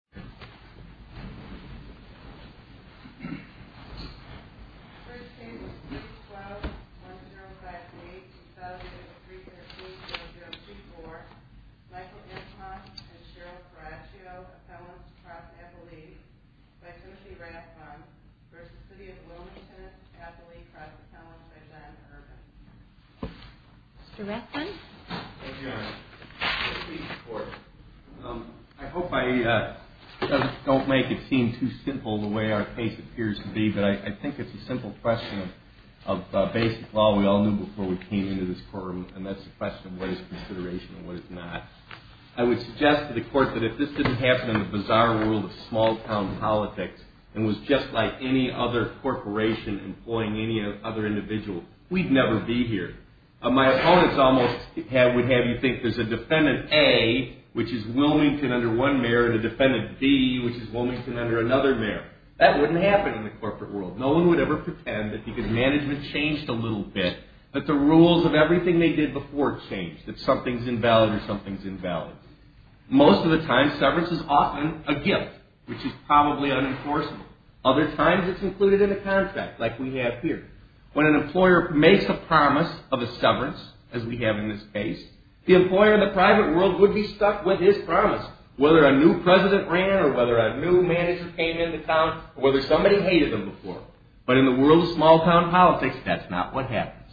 1-0-5-8-2000-302-0-0-2-4 Michael Epstein and Cheryl Caraccio, Assemblants to Trustee Epple-Lee v. Timothy Rathbun v. City of Wilmington Epple-Lee, Trustee Assemblants by Diane Irvin Mr. Rathbun? Thank you, Your Honor. I hope I don't make it seem too simple the way our case appears to be, but I think it's a simple question of basic law. We all knew before we came into this courtroom, and that's the question of what is consideration and what is not. I would suggest to the Court that if this didn't happen in the bizarre world of small-town politics and was just like any other corporation employing any other individual, we'd never be here. My opponents almost would have you think there's a Defendant A, which is Wilmington under one mayor, and a Defendant B, which is Wilmington under another mayor. That wouldn't happen in the corporate world. No one would ever pretend that because management changed a little bit that the rules of everything they did before changed, that something's invalid or something's invalid. Most of the time, severance is often a gift, which is probably unenforceable. Other times, it's included in a contract, like we have here. When an employer makes a promise of a severance, as we have in this case, the employer in the private world would be stuck with his promise, whether a new president ran or whether a new manager came into town or whether somebody hated him before. But in the world of small-town politics, that's not what happens.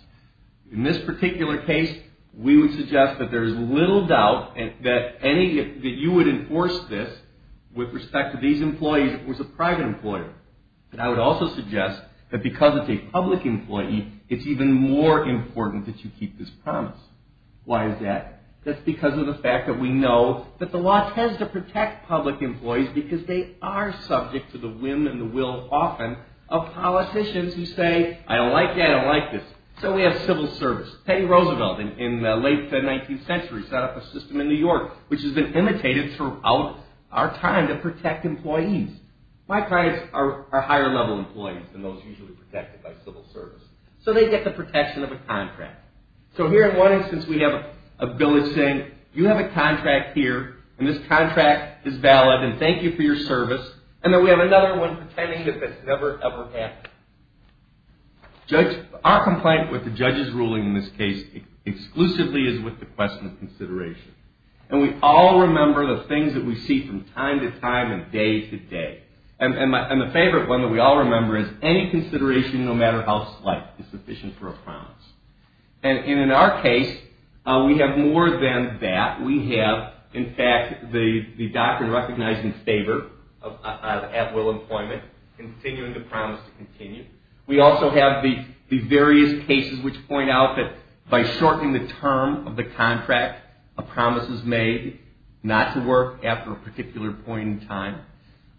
In this particular case, we would suggest that there's little doubt that you would enforce this with respect to these employees if it was a private employer. But I would also suggest that because it's a public employee, it's even more important that you keep this promise. Why is that? That's because of the fact that we know that the law tends to protect public employees because they are subject to the whim and the will, often, of politicians who say, I don't like that, I don't like this. So we have civil service. Teddy Roosevelt, in the late 19th century, set up a system in New York, which has been imitated throughout our time to protect employees. My clients are higher-level employees than those usually protected by civil service. So they get the protection of a contract. So here, in one instance, we have a bill that's saying, you have a contract here, and this contract is valid, and thank you for your service. And then we have another one pretending that that's never, ever happened. Our complaint with the judge's ruling in this case exclusively is with the question of consideration. And we all remember the things that we see from time to time and day to day. And the favorite one that we all remember is, any consideration, no matter how slight, is sufficient for a promise. And in our case, we have more than that. We have, in fact, the doctrine recognizing favor at will employment, continuing the promise to continue. We also have the various cases which point out that by shortening the term of the contract, a promise is made not to work after a particular point in time.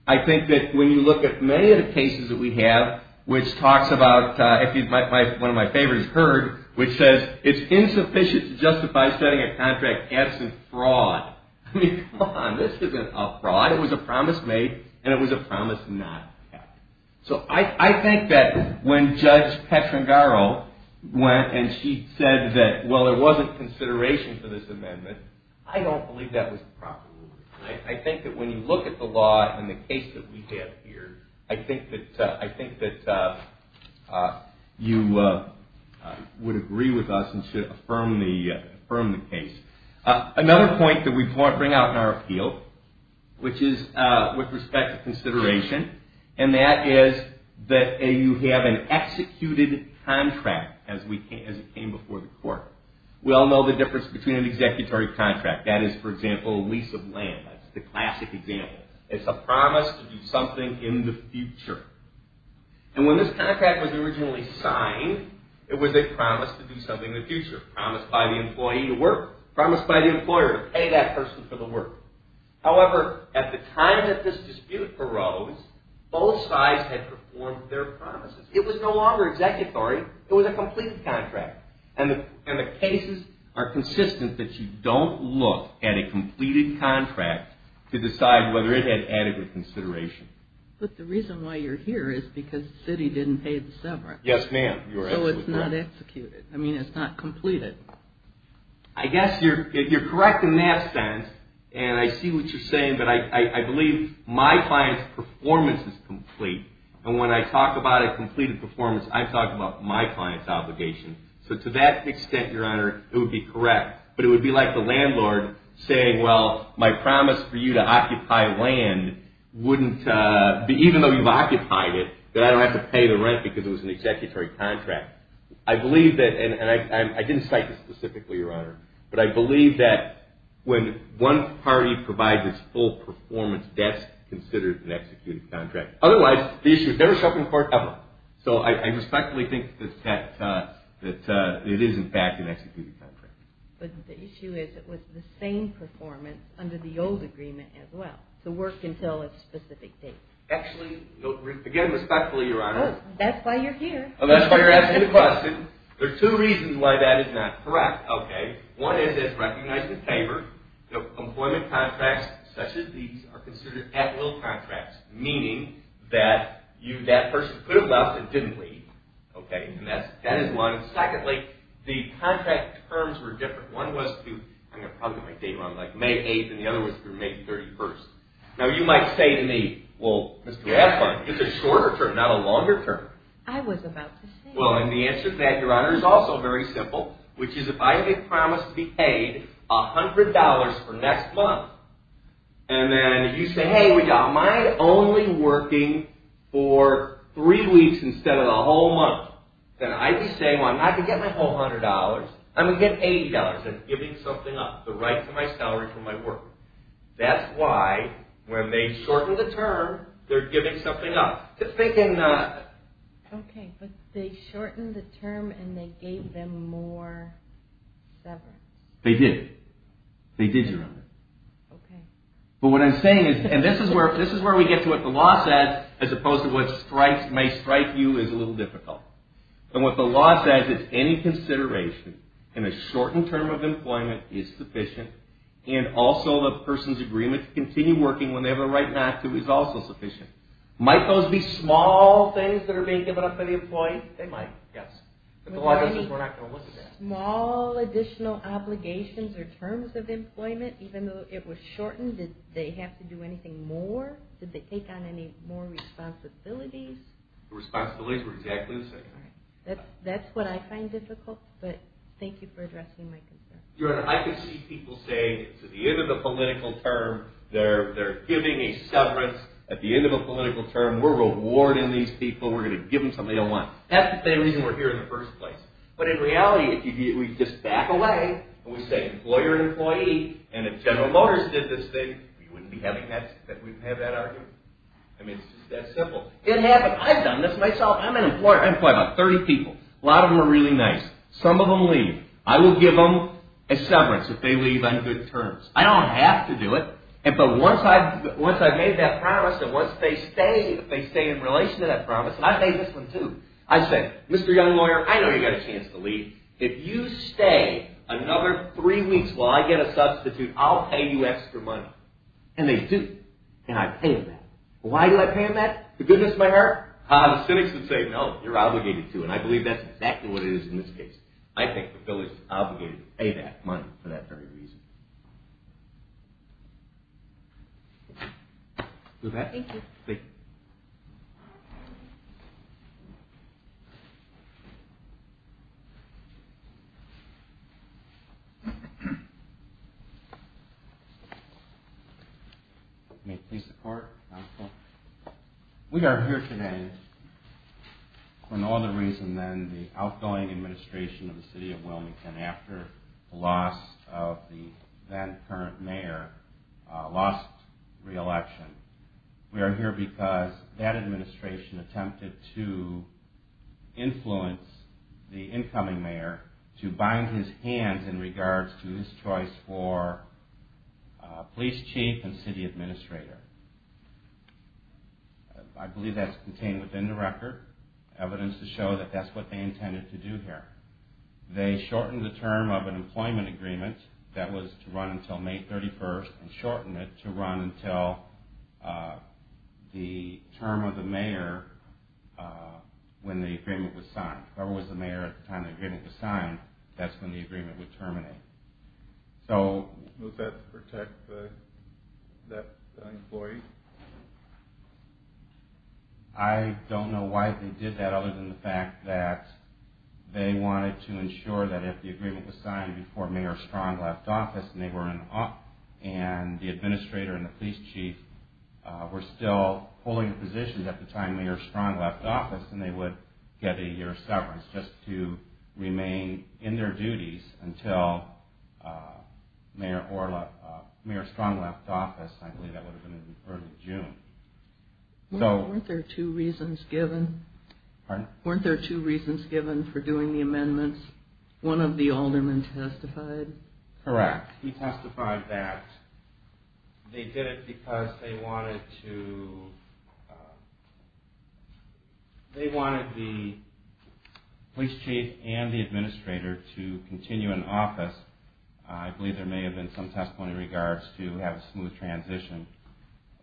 I think that when you look at many of the cases that we have, which talks about, one of my favorites, HURD, which says, it's insufficient to justify setting a contract absent fraud. I mean, come on, this isn't a fraud. It was a promise made, and it was a promise not kept. So I think that when Judge Petrangaro went and she said that, well, there wasn't consideration for this amendment, I don't believe that was the proper ruling. I think that when you look at the law in the case that we have here, I think that you would agree with us and should affirm the case. Another point that we bring out in our appeal, which is with respect to consideration, and that is that you have an executed contract as it came before the court. We all know the difference between an executory contract. That is, for example, a lease of land. That's the classic example. It's a promise to do something in the future. And when this contract was originally signed, it was a promise to do something in the future, promised by the employee to work, promised by the employer to pay that person for the work. However, at the time that this dispute arose, both sides had performed their promises. It was no longer executory. It was a completed contract. And the cases are consistent that you don't look at a completed contract to decide whether it had adequate consideration. But the reason why you're here is because the city didn't pay the severance. Yes, ma'am. So it's not executed. I mean, it's not completed. I guess you're correct in that sense. And I see what you're saying, but I believe my client's performance is complete. And when I talk about a completed performance, I'm talking about my client's obligation. So to that extent, Your Honor, it would be correct. But it would be like the landlord saying, well, my promise for you to occupy land wouldn't be, even though you've occupied it, that I don't have to pay the rent because it was an executory contract. I believe that, and I didn't cite this specifically, Your Honor, but I believe that when one party provides its full performance, that's considered an executed contract. Otherwise, the issue is never set before ever. So I respectfully think that it is, in fact, an executed contract. But the issue is it was the same performance under the old agreement as well, to work until a specific date. Actually, again, respectfully, Your Honor. That's why you're here. That's why you're asking the question. There are two reasons why that is not correct, okay? One is it's recognized in favor. Employment contracts such as these are considered at-will contracts, meaning that that person could have left and didn't leave, okay? And that is one. Secondly, the contract terms were different. One was to, I'm going to probably get my date wrong, like May 8th, and the other was through May 31st. Now, you might say to me, well, Mr. Affleck, it's a shorter term, not a longer term. I was about to say. Well, and the answer to that, Your Honor, is also very simple, which is if I get promised to be paid $100 for next month, and then you say, hey, am I only working for three weeks instead of the whole month, then I'd be saying, well, I could get my whole $100. I'm going to get $80. That's giving something up, the right to my salary for my work. That's why, when they shorten the term, they're giving something up. Just thinking that. Okay, but they shortened the term and they gave them more severance. They did. They did, Your Honor. Okay. But what I'm saying is, and this is where we get to what the law says, as opposed to what may strike you as a little difficult. And what the law says is any consideration in a shortened term of employment is sufficient, and also the person's agreement to continue working when they have a right not to is also sufficient. Might those be small things that are being given up by the employee? They might, yes. But the law says we're not going to look at that. Small additional obligations or terms of employment, even though it was shortened, did they have to do anything more? Did they take on any more responsibilities? The responsibilities were exactly the same. All right. That's what I find difficult, but thank you for addressing my concern. Your Honor, I can see people saying, at the end of the political term, they're giving a severance. At the end of a political term, we're rewarding these people. We're going to give them something they'll want. That's the same reason we're here in the first place. But in reality, if we just back away and we say employer and employee, and if General Motors did this thing, we wouldn't have that argument. I mean, it's just that simple. It happened. I've done this myself. I'm an employer. I employ about 30 people. A lot of them are really nice. Some of them leave. I will give them a severance if they leave on good terms. I don't have to do it, but once I've made that promise, and once they stay in relation to that promise, and I've made this one too, I say, Mr. Young Lawyer, I know you've got a chance to leave. If you stay another three weeks while I get a substitute, I'll pay you extra money. And they do. And I pay them that. Why do I pay them that? For goodness of my heart? The cynics would say, no, you're obligated to. And I believe that's exactly what it is in this case. I think the bill is obligated to pay that money for that very reason. With that. Thank you. Thank you. May it please the Court. We are here today for no other reason than the outgoing administration of the city of Wilmington after the loss of the then current mayor, lost reelection. We are here because that administration attempted to influence the incoming mayor to bind his hands in regards to his choice for police chief and city administrator. I believe that's contained within the record, evidence to show that that's what they intended to do here. They shortened the term of an employment agreement that was to run until May 31st and shortened it to run until the term of the mayor when the agreement was signed. If it was the mayor at the time the agreement was signed, that's when the agreement would terminate. So. Does that protect that employee? I don't know why they did that other than the fact that they wanted to ensure that if the agreement was signed before Mayor Strong left office and they were in office and the administrator and the police chief were still holding a position at the time Mayor Strong left office, then they would get a year of severance just to remain in their duties until Mayor Strong left office. I believe that would have been in early June. Weren't there two reasons given? Pardon? Weren't there two reasons given for doing the amendments? One of the aldermen testified? Correct. He testified that they did it because they wanted the police chief and the administrator to continue in office. I believe there may have been some testimony in regards to have a smooth transition.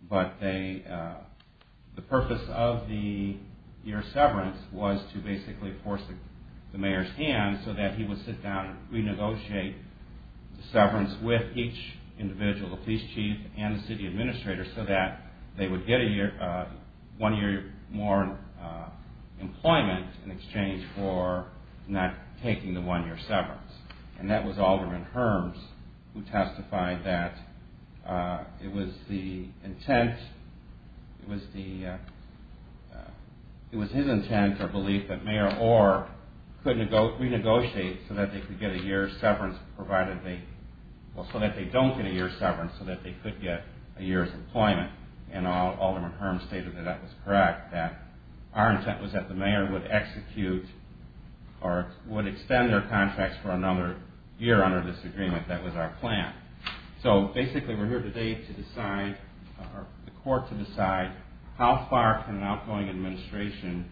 But the purpose of the year of severance was to basically force the mayor's hand so that he would sit down and renegotiate the severance with each individual, the police chief and the city administrator, so that they would get one year more employment in exchange for not taking the one year severance. And that was Alderman Herms who testified that it was the intent, it was his intent or belief that Mayor Orr could renegotiate so that they could get a year's severance provided they, well so that they don't get a year's severance so that they could get a year's employment. And Alderman Herms stated that that was correct, that our intent was that the mayor would execute or would extend their contracts for another year under this agreement. That was our plan. So basically we're here today to decide, the court to decide how far can an outgoing administration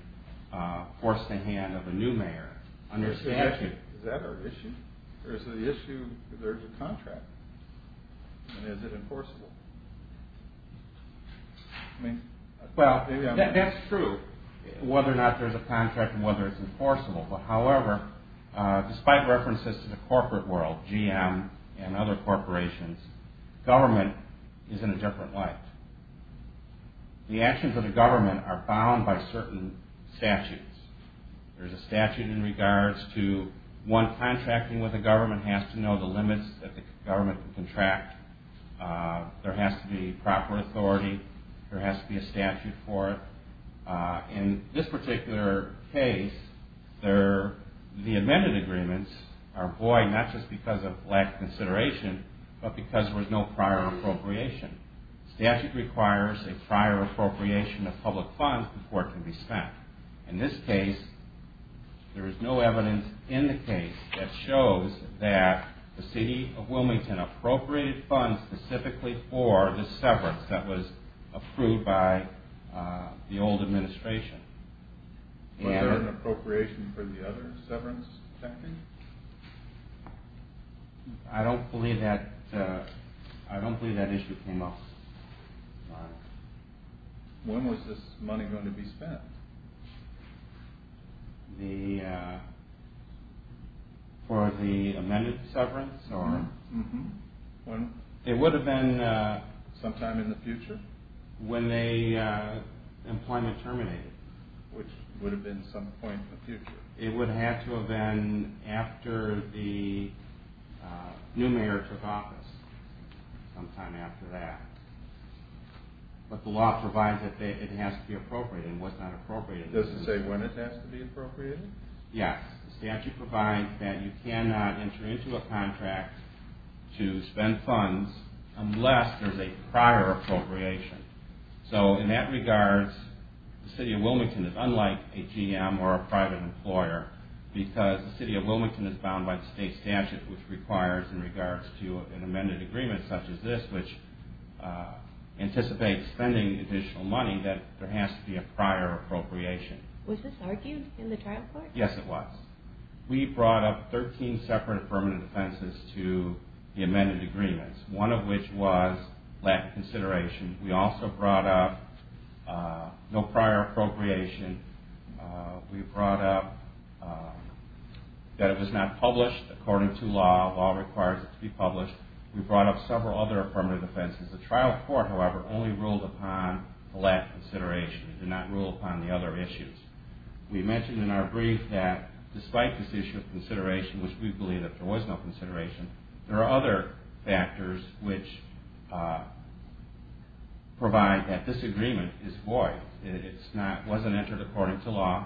force the hand of a new mayor under statute. Is that our issue? Or is the issue there's a contract? And is it enforceable? Well, that's true. Whether or not there's a contract and whether it's enforceable. But however, despite references to the corporate world, GM and other corporations, government is in a different light. The actions of the government are bound by certain statutes. There's a statute in regards to one contracting with a government has to know the limits that the government can contract. There has to be proper authority. There has to be a statute for it. In this particular case, the amended agreements are void, not just because of lack of consideration, but because there was no prior appropriation. Statute requires a prior appropriation of public funds before it can be spent. In this case, there is no evidence in the case that shows that the city of Wilmington appropriated funds specifically for the severance that was in the administration. Was there an appropriation for the other severance? I don't believe that issue came up. When was this money going to be spent? For the amended severance? It would have been. Sometime in the future? When the employment terminated. Which would have been some point in the future. It would have to have been after the new mayor took office, sometime after that. But the law provides that it has to be appropriated, and what's not appropriated Does it say when it has to be appropriated? Yes. The statute provides that you cannot enter into a contract to spend funds unless there's a prior appropriation. So in that regard, the city of Wilmington is unlike a GM or a private employer because the city of Wilmington is bound by the state statute, which requires in regards to an amended agreement such as this, which anticipates spending additional money, that there has to be a prior appropriation. Was this argued in the trial court? Yes, it was. We brought up 13 separate affirmative defenses to the amended agreements. One of which was lack of consideration. We also brought up no prior appropriation. We brought up that it was not published according to law. Law requires it to be published. We brought up several other affirmative defenses. The trial court, however, only ruled upon the lack of consideration. It did not rule upon the other issues. We mentioned in our brief that despite this issue of consideration, which we believe that there was no consideration, there are other factors which provide that this agreement is void. It wasn't entered according to law.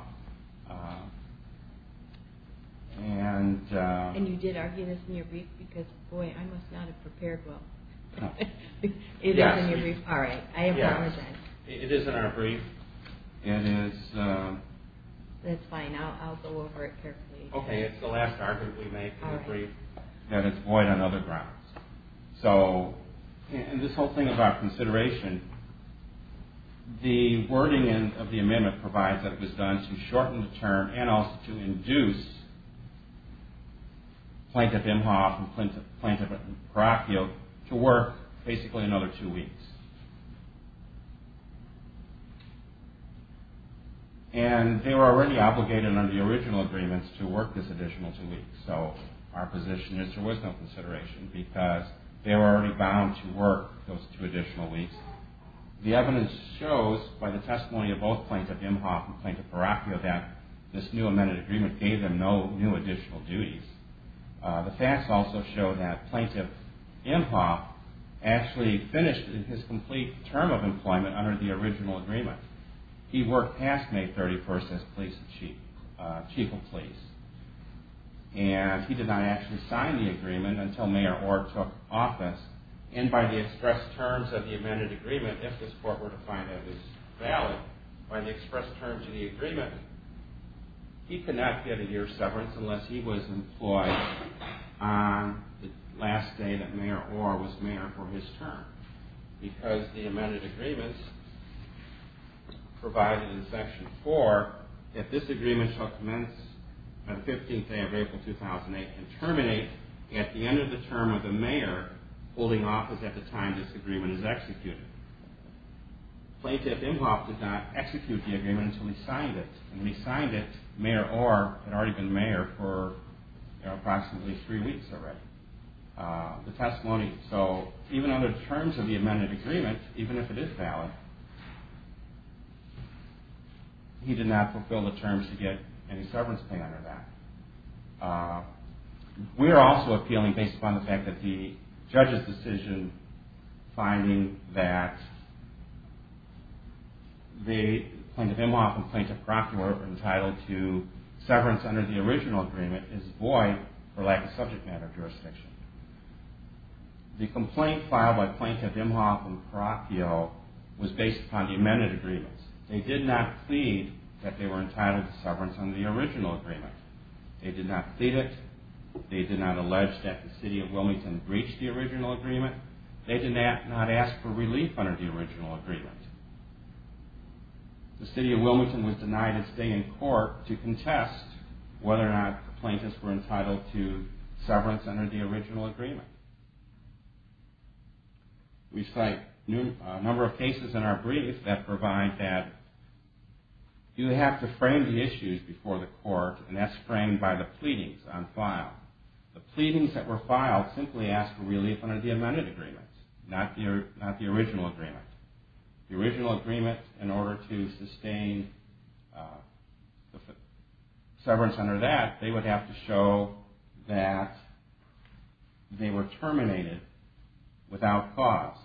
And you did argue this in your brief because, boy, I must not have prepared well. It is in your brief. All right. I apologize. It is in our brief. It is. That's fine. I'll go over it carefully. Okay. It's the last argument we made in the brief that it's void on other grounds. So in this whole thing about consideration, the wording of the amendment provides that it was done to shorten the term and also to induce Plaintiff Imhoff and Plaintiff Caracchio to work basically another two weeks. And they were already obligated under the original agreements to work this additional two weeks. So our position is there was no consideration because they were already bound to work those two additional weeks. The evidence shows by the testimony of both Plaintiff Imhoff and Plaintiff Caracchio that this new amended agreement gave them no new additional duties. The facts also show that Plaintiff Imhoff actually finished his complete term of employment under the original agreement. He worked past May 31st as Chief of Police. And he did not actually sign the agreement until Mayor Orr took office. And by the express terms of the amended agreement, if this court were to find that it was valid, by the express terms of the agreement, he could not get a year's severance unless he was employed on the last day that Mayor Orr was mayor for his term. Because the amended agreements provided in Section 4, that this agreement shall commence on the 15th day of April 2008 and terminate at the end of the term of the mayor holding office at the time this agreement is executed. Plaintiff Imhoff did not execute the agreement until he signed it. And when he signed it, Mayor Orr had already been mayor for approximately three weeks already. The testimony, so even under the terms of the amended agreement, even if it is valid, he did not fulfill the terms to get any severance pay under that. We are also appealing based upon the fact that the judge's decision, finding that the Plaintiff Imhoff and Plaintiff Caracchio were entitled to severance under the original agreement is void for lack of subject matter jurisdiction. The complaint filed by Plaintiff Imhoff and Caracchio was based upon the amended agreements. They did not plead that they were entitled to severance under the original agreement. They did not plead it. They did not allege that the City of Wilmington breached the original agreement. They did not ask for relief under the original agreement. The City of Wilmington was denied a stay in court to contest whether or not the plaintiffs were entitled to severance under the original agreement. We cite a number of cases in our brief that provide that you have to frame the issues before the court and that's framed by the pleadings on file. The pleadings that were filed simply ask for relief under the amended agreement, not the original agreement. The original agreement, in order to sustain severance under that, they would have to show that they were terminated without cause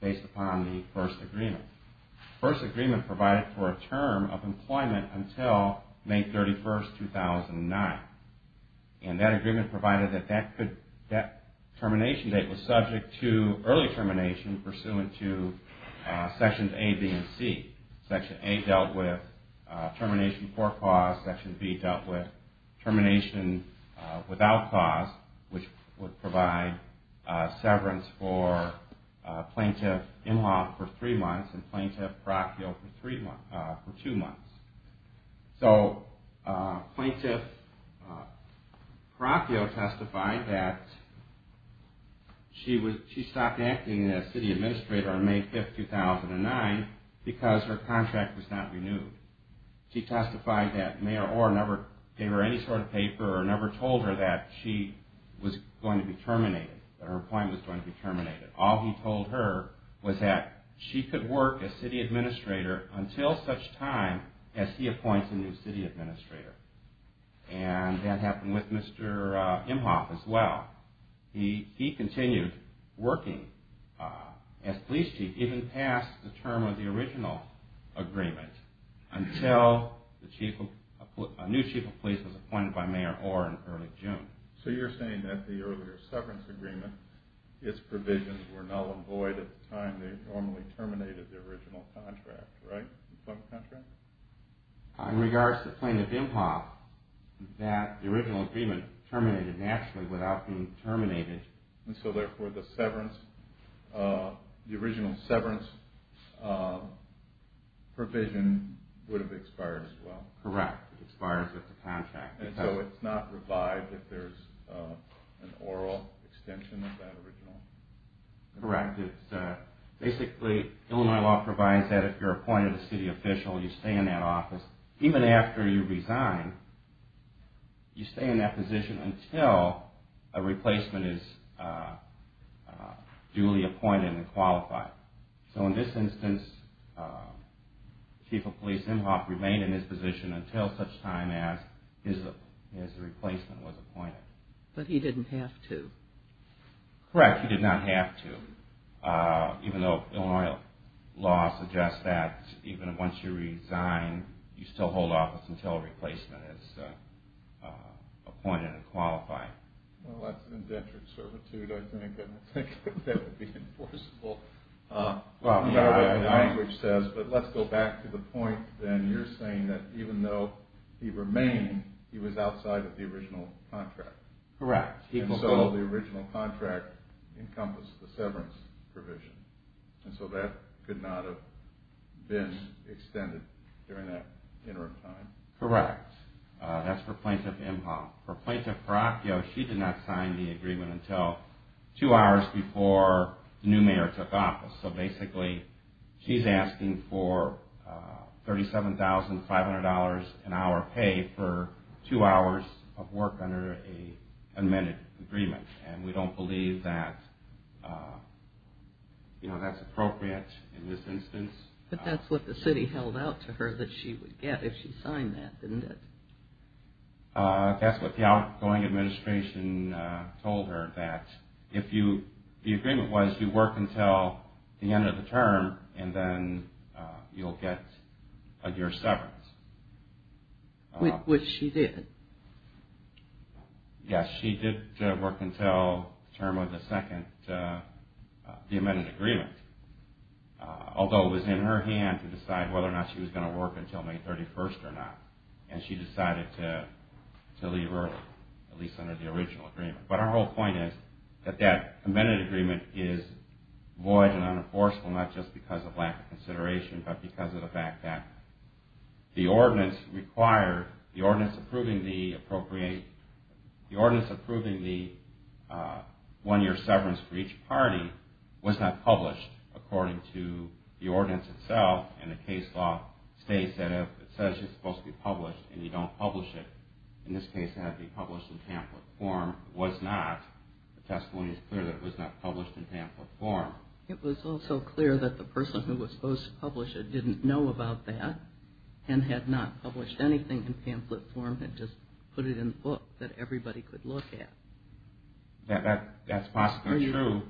based upon the first agreement. The first agreement provided for a term of employment until May 31, 2009 and that agreement provided that that termination date was subject to early termination pursuant to Sections A, B, and C. Section A dealt with termination for cause, Section B dealt with termination without cause, which would provide severance for Plaintiff Imhoff for three months and Plaintiff Caracchio for two months. So Plaintiff Caracchio testified that she stopped acting as City Attorney and City Administrator on May 5, 2009 because her contract was not renewed. She testified that Mayor Orr never gave her any sort of paper or never told her that she was going to be terminated, that her appointment was going to be terminated. All he told her was that she could work as City Administrator until such time as he appoints a new City Administrator and that happened with Mr. Imhoff as well. He continued working as Police Chief even past the term of the original agreement until a new Chief of Police was appointed by Mayor Orr in early June. So you're saying that the earlier severance agreement, its provisions were null and void at the time they normally terminated the original contract, right? In regards to Plaintiff Imhoff, that the original agreement terminated naturally without being terminated. And so therefore the original severance provision would have expired as well? Correct. It expires with the contract. And so it's not revived if there's an oral extension of that original? Correct. Basically Illinois law provides that if you're appointed a City Official you stay in that office even after you resign, you stay in that position until a replacement is duly appointed and qualified. So in this instance, Chief of Police Imhoff remained in his position until such time as his replacement was appointed. But he didn't have to? Correct. He did not have to. Even though Illinois law suggests that even once you resign you still hold office until a replacement is appointed and qualified. Well that's indentured servitude I think, and I think that would be enforceable. But let's go back to the point then. You're saying that even though he remained, he was outside of the original contract? Correct. And so the original contract encompassed the severance provision. And so that could not have been extended during that interim time? Correct. That's for Plaintiff Imhoff. For Plaintiff Peracchio, she did not sign the agreement until two hours before the new mayor took office. So basically she's asking for $37,500 an hour pay for two hours of work under an amended agreement. And we don't believe that that's appropriate in this instance. But that's what the city held out to her that she would get if she signed that, didn't it? That's what the outgoing administration told her. That if you, the agreement was you work until the end of the term and then you'll get a year's severance. Which she did. Yes, she did work until the term of the second, the amended agreement. Although it was in her hand to decide whether or not she was going to work until May 31st or not. And she decided to leave early, at least under the original agreement. But our whole point is that that amended agreement is void and unenforceable not just because of lack of consideration but because of the fact that the ordinance approving the one year severance for each party was not published according to the ordinance itself. And the case law states that if it says it's supposed to be published and you don't publish it, in this case it had to be published in pamphlet form, it was not. The testimony is clear that it was not published in pamphlet form. It was also clear that the person who was supposed to publish it didn't know about that and had not published anything in pamphlet form and just put it in the book that everybody could look at. That's possibly true.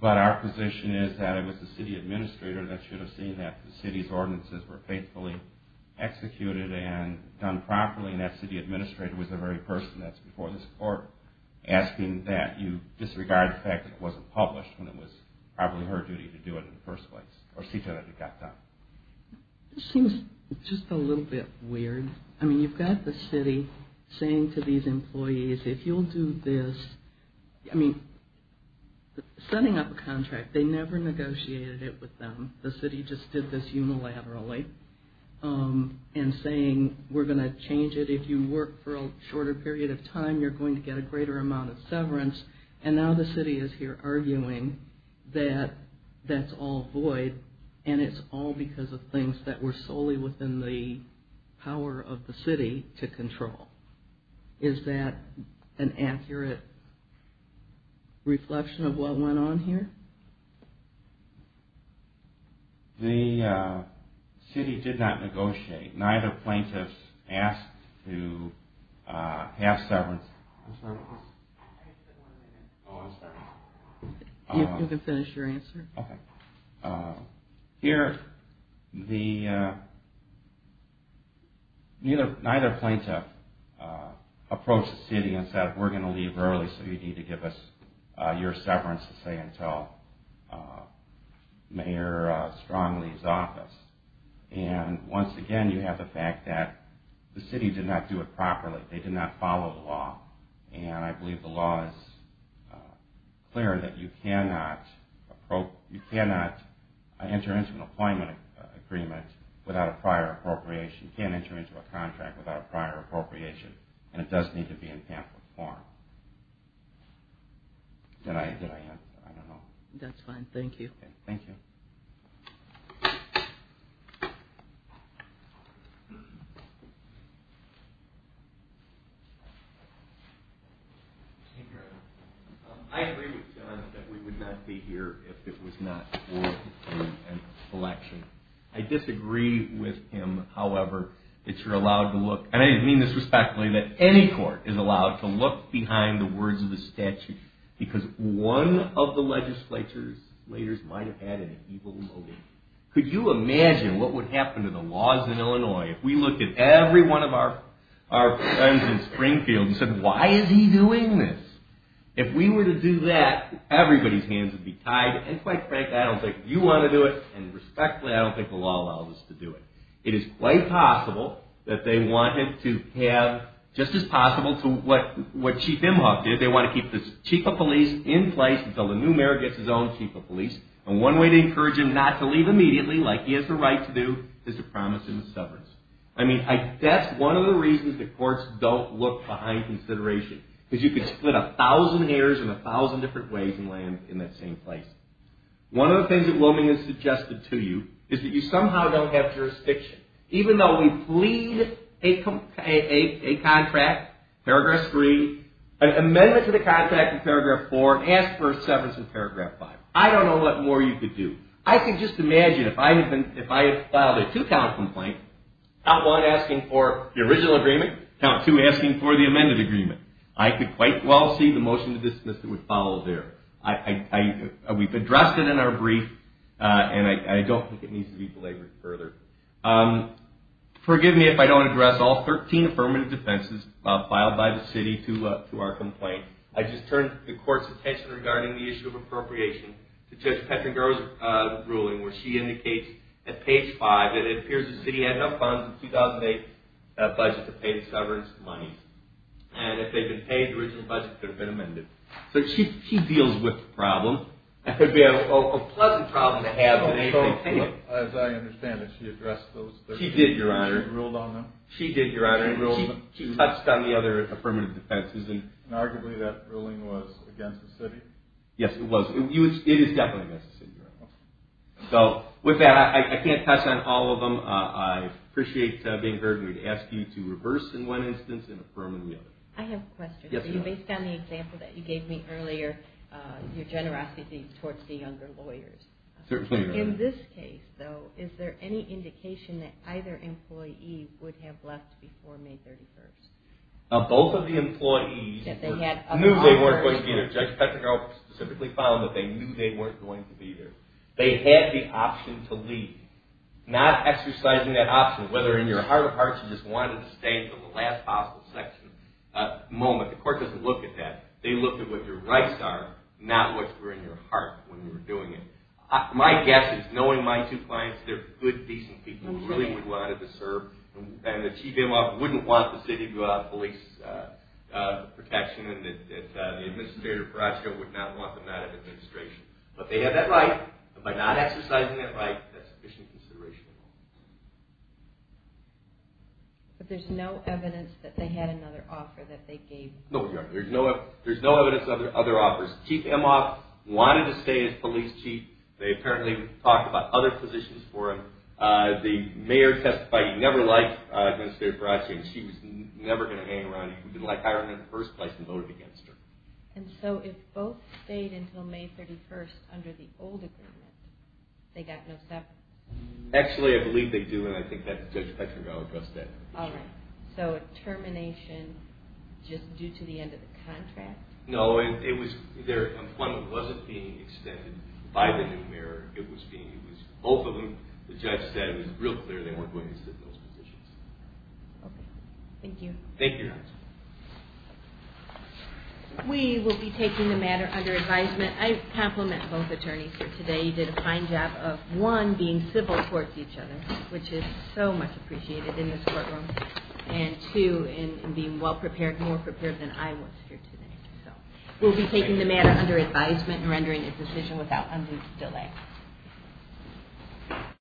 But our position is that it was the city administrator that should have seen that. The city's ordinances were faithfully executed and done properly and that city administrator was the very person that's before this court asking that you disregard the fact that it wasn't published when it was probably her duty to do it in the first place or see to it that it got done. This seems just a little bit weird. I mean, you've got the city saying to these employees, if you'll do this. I mean, setting up a contract, they never negotiated it with them. The city just did this unilaterally and saying we're going to change it. If you work for a shorter period of time, you're going to get a greater amount of severance. And now the city is here arguing that that's all void and it's all because of things that were solely within the power of the city to control. Is that an accurate reflection of what went on here? The city did not negotiate. Neither plaintiff asked to pass severance. You can finish your answer. Okay. Neither plaintiff approached the city and said we're going to leave early so you need to give us your severance to say until Mayor Strong leaves office. And once again, you have the fact that the city did not do it properly. They did not follow the law. And I believe the law is clear that you cannot enter into an appointment agreement without a prior appropriation. You can't enter into a contract without a prior appropriation. And it does need to be in pamphlet form. Did I answer? I don't know. That's fine. Thank you. Thank you. I agree with John that we would not be here if it was not for an election. I disagree with him, however, that you're allowed to look and I mean this respectfully, that any court is allowed to look behind the words of the statute because one of the legislature's leaders might have had an evil motive. Could you imagine what would happen to the laws in Illinois If we looked at every one of our friends in Springfield and said why is he doing this? If we were to do that, everybody's hands would be tied. And quite frankly, I don't think you want to do it. And respectfully, I don't think the law allows us to do it. It is quite possible that they wanted to have just as possible to what Chief Imhoff did. They want to keep the chief of police in place until the new mayor gets his own chief of police. And one way to encourage him not to leave immediately, like he has the right to do, is to promise him severance. I mean, that's one of the reasons that courts don't look behind consideration. Because you could split a thousand heirs in a thousand different ways and land in that same place. One of the things that Wilming has suggested to you is that you somehow don't have jurisdiction. Even though we plead a contract, paragraph 3, an amendment to the contract in paragraph 4, ask for severance in paragraph 5. I don't know what more you could do. I can just imagine if I had filed a two-count complaint, count 1 asking for the original agreement, count 2 asking for the amended agreement. I could quite well see the motion to dismiss that would follow there. We've addressed it in our brief, and I don't think it needs to be belabored further. Forgive me if I don't address all 13 affirmative defenses filed by the city to our complaint. I just turned the court's attention regarding the issue of appropriation to Judge Pettenger's ruling, where she indicates at page 5 that it appears the city had enough funds in the 2008 budget to pay the severance money. And if they'd been paid the original budget, it would have been amended. So she deals with the problem. It would be a pleasant problem to have, but anything can happen. As I understand it, she addressed those 13 defenses and ruled on them? She did, Your Honor. She did, Your Honor, and she touched on the other affirmative defenses. And arguably that ruling was against the city? Yes, it was. It is definitely against the city, Your Honor. So with that, I can't touch on all of them. I appreciate being heard. We'd ask you to reverse, in one instance, and affirm in the other. I have a question. Based on the example that you gave me earlier, your generosity towards the younger lawyers. In this case, though, is there any indication that either employee would have left before May 31? Both of the employees knew they weren't going to be there. Judge Pettigrew specifically found that they knew they weren't going to be there. They had the option to leave, not exercising that option, whether in your heart of hearts you just wanted to stay until the last possible moment. The court doesn't look at that. They look at what your rights are, not what's in your heart when you're doing it. My guess is, knowing my two clients, they're good, decent people, who really would have wanted to serve, and that Chief Emhoff wouldn't want the city to go out of police protection and that the administrator, Perasco, would not want them out of administration. But they had that right. By not exercising that right, that's sufficient consideration. But there's no evidence that they had another offer that they gave? No, Your Honor. There's no evidence of their other offers. Chief Emhoff wanted to stay as police chief. They apparently talked about other positions for him. The mayor testified he never liked Administrator Perasco, and she was never going to hang around him. He didn't like hiring him in the first place and voted against her. And so if both stayed until May 31st under the old agreement, they got no separation? Actually, I believe they do, and I think that Judge Petrenko addressed that. All right. So a termination just due to the end of the contract? No, their employment wasn't being extended by the new mayor. It was both of them. The judge said it was real clear they weren't going to sit in those positions. Okay. Thank you. Thank you, Your Honor. We will be taking the matter under advisement. I compliment both attorneys here today. You did a fine job of, one, being civil towards each other, which is so much appreciated in this courtroom, and, two, in being well-prepared, more prepared than I was here today. We'll be taking the matter under advisement and rendering a decision without undue delay.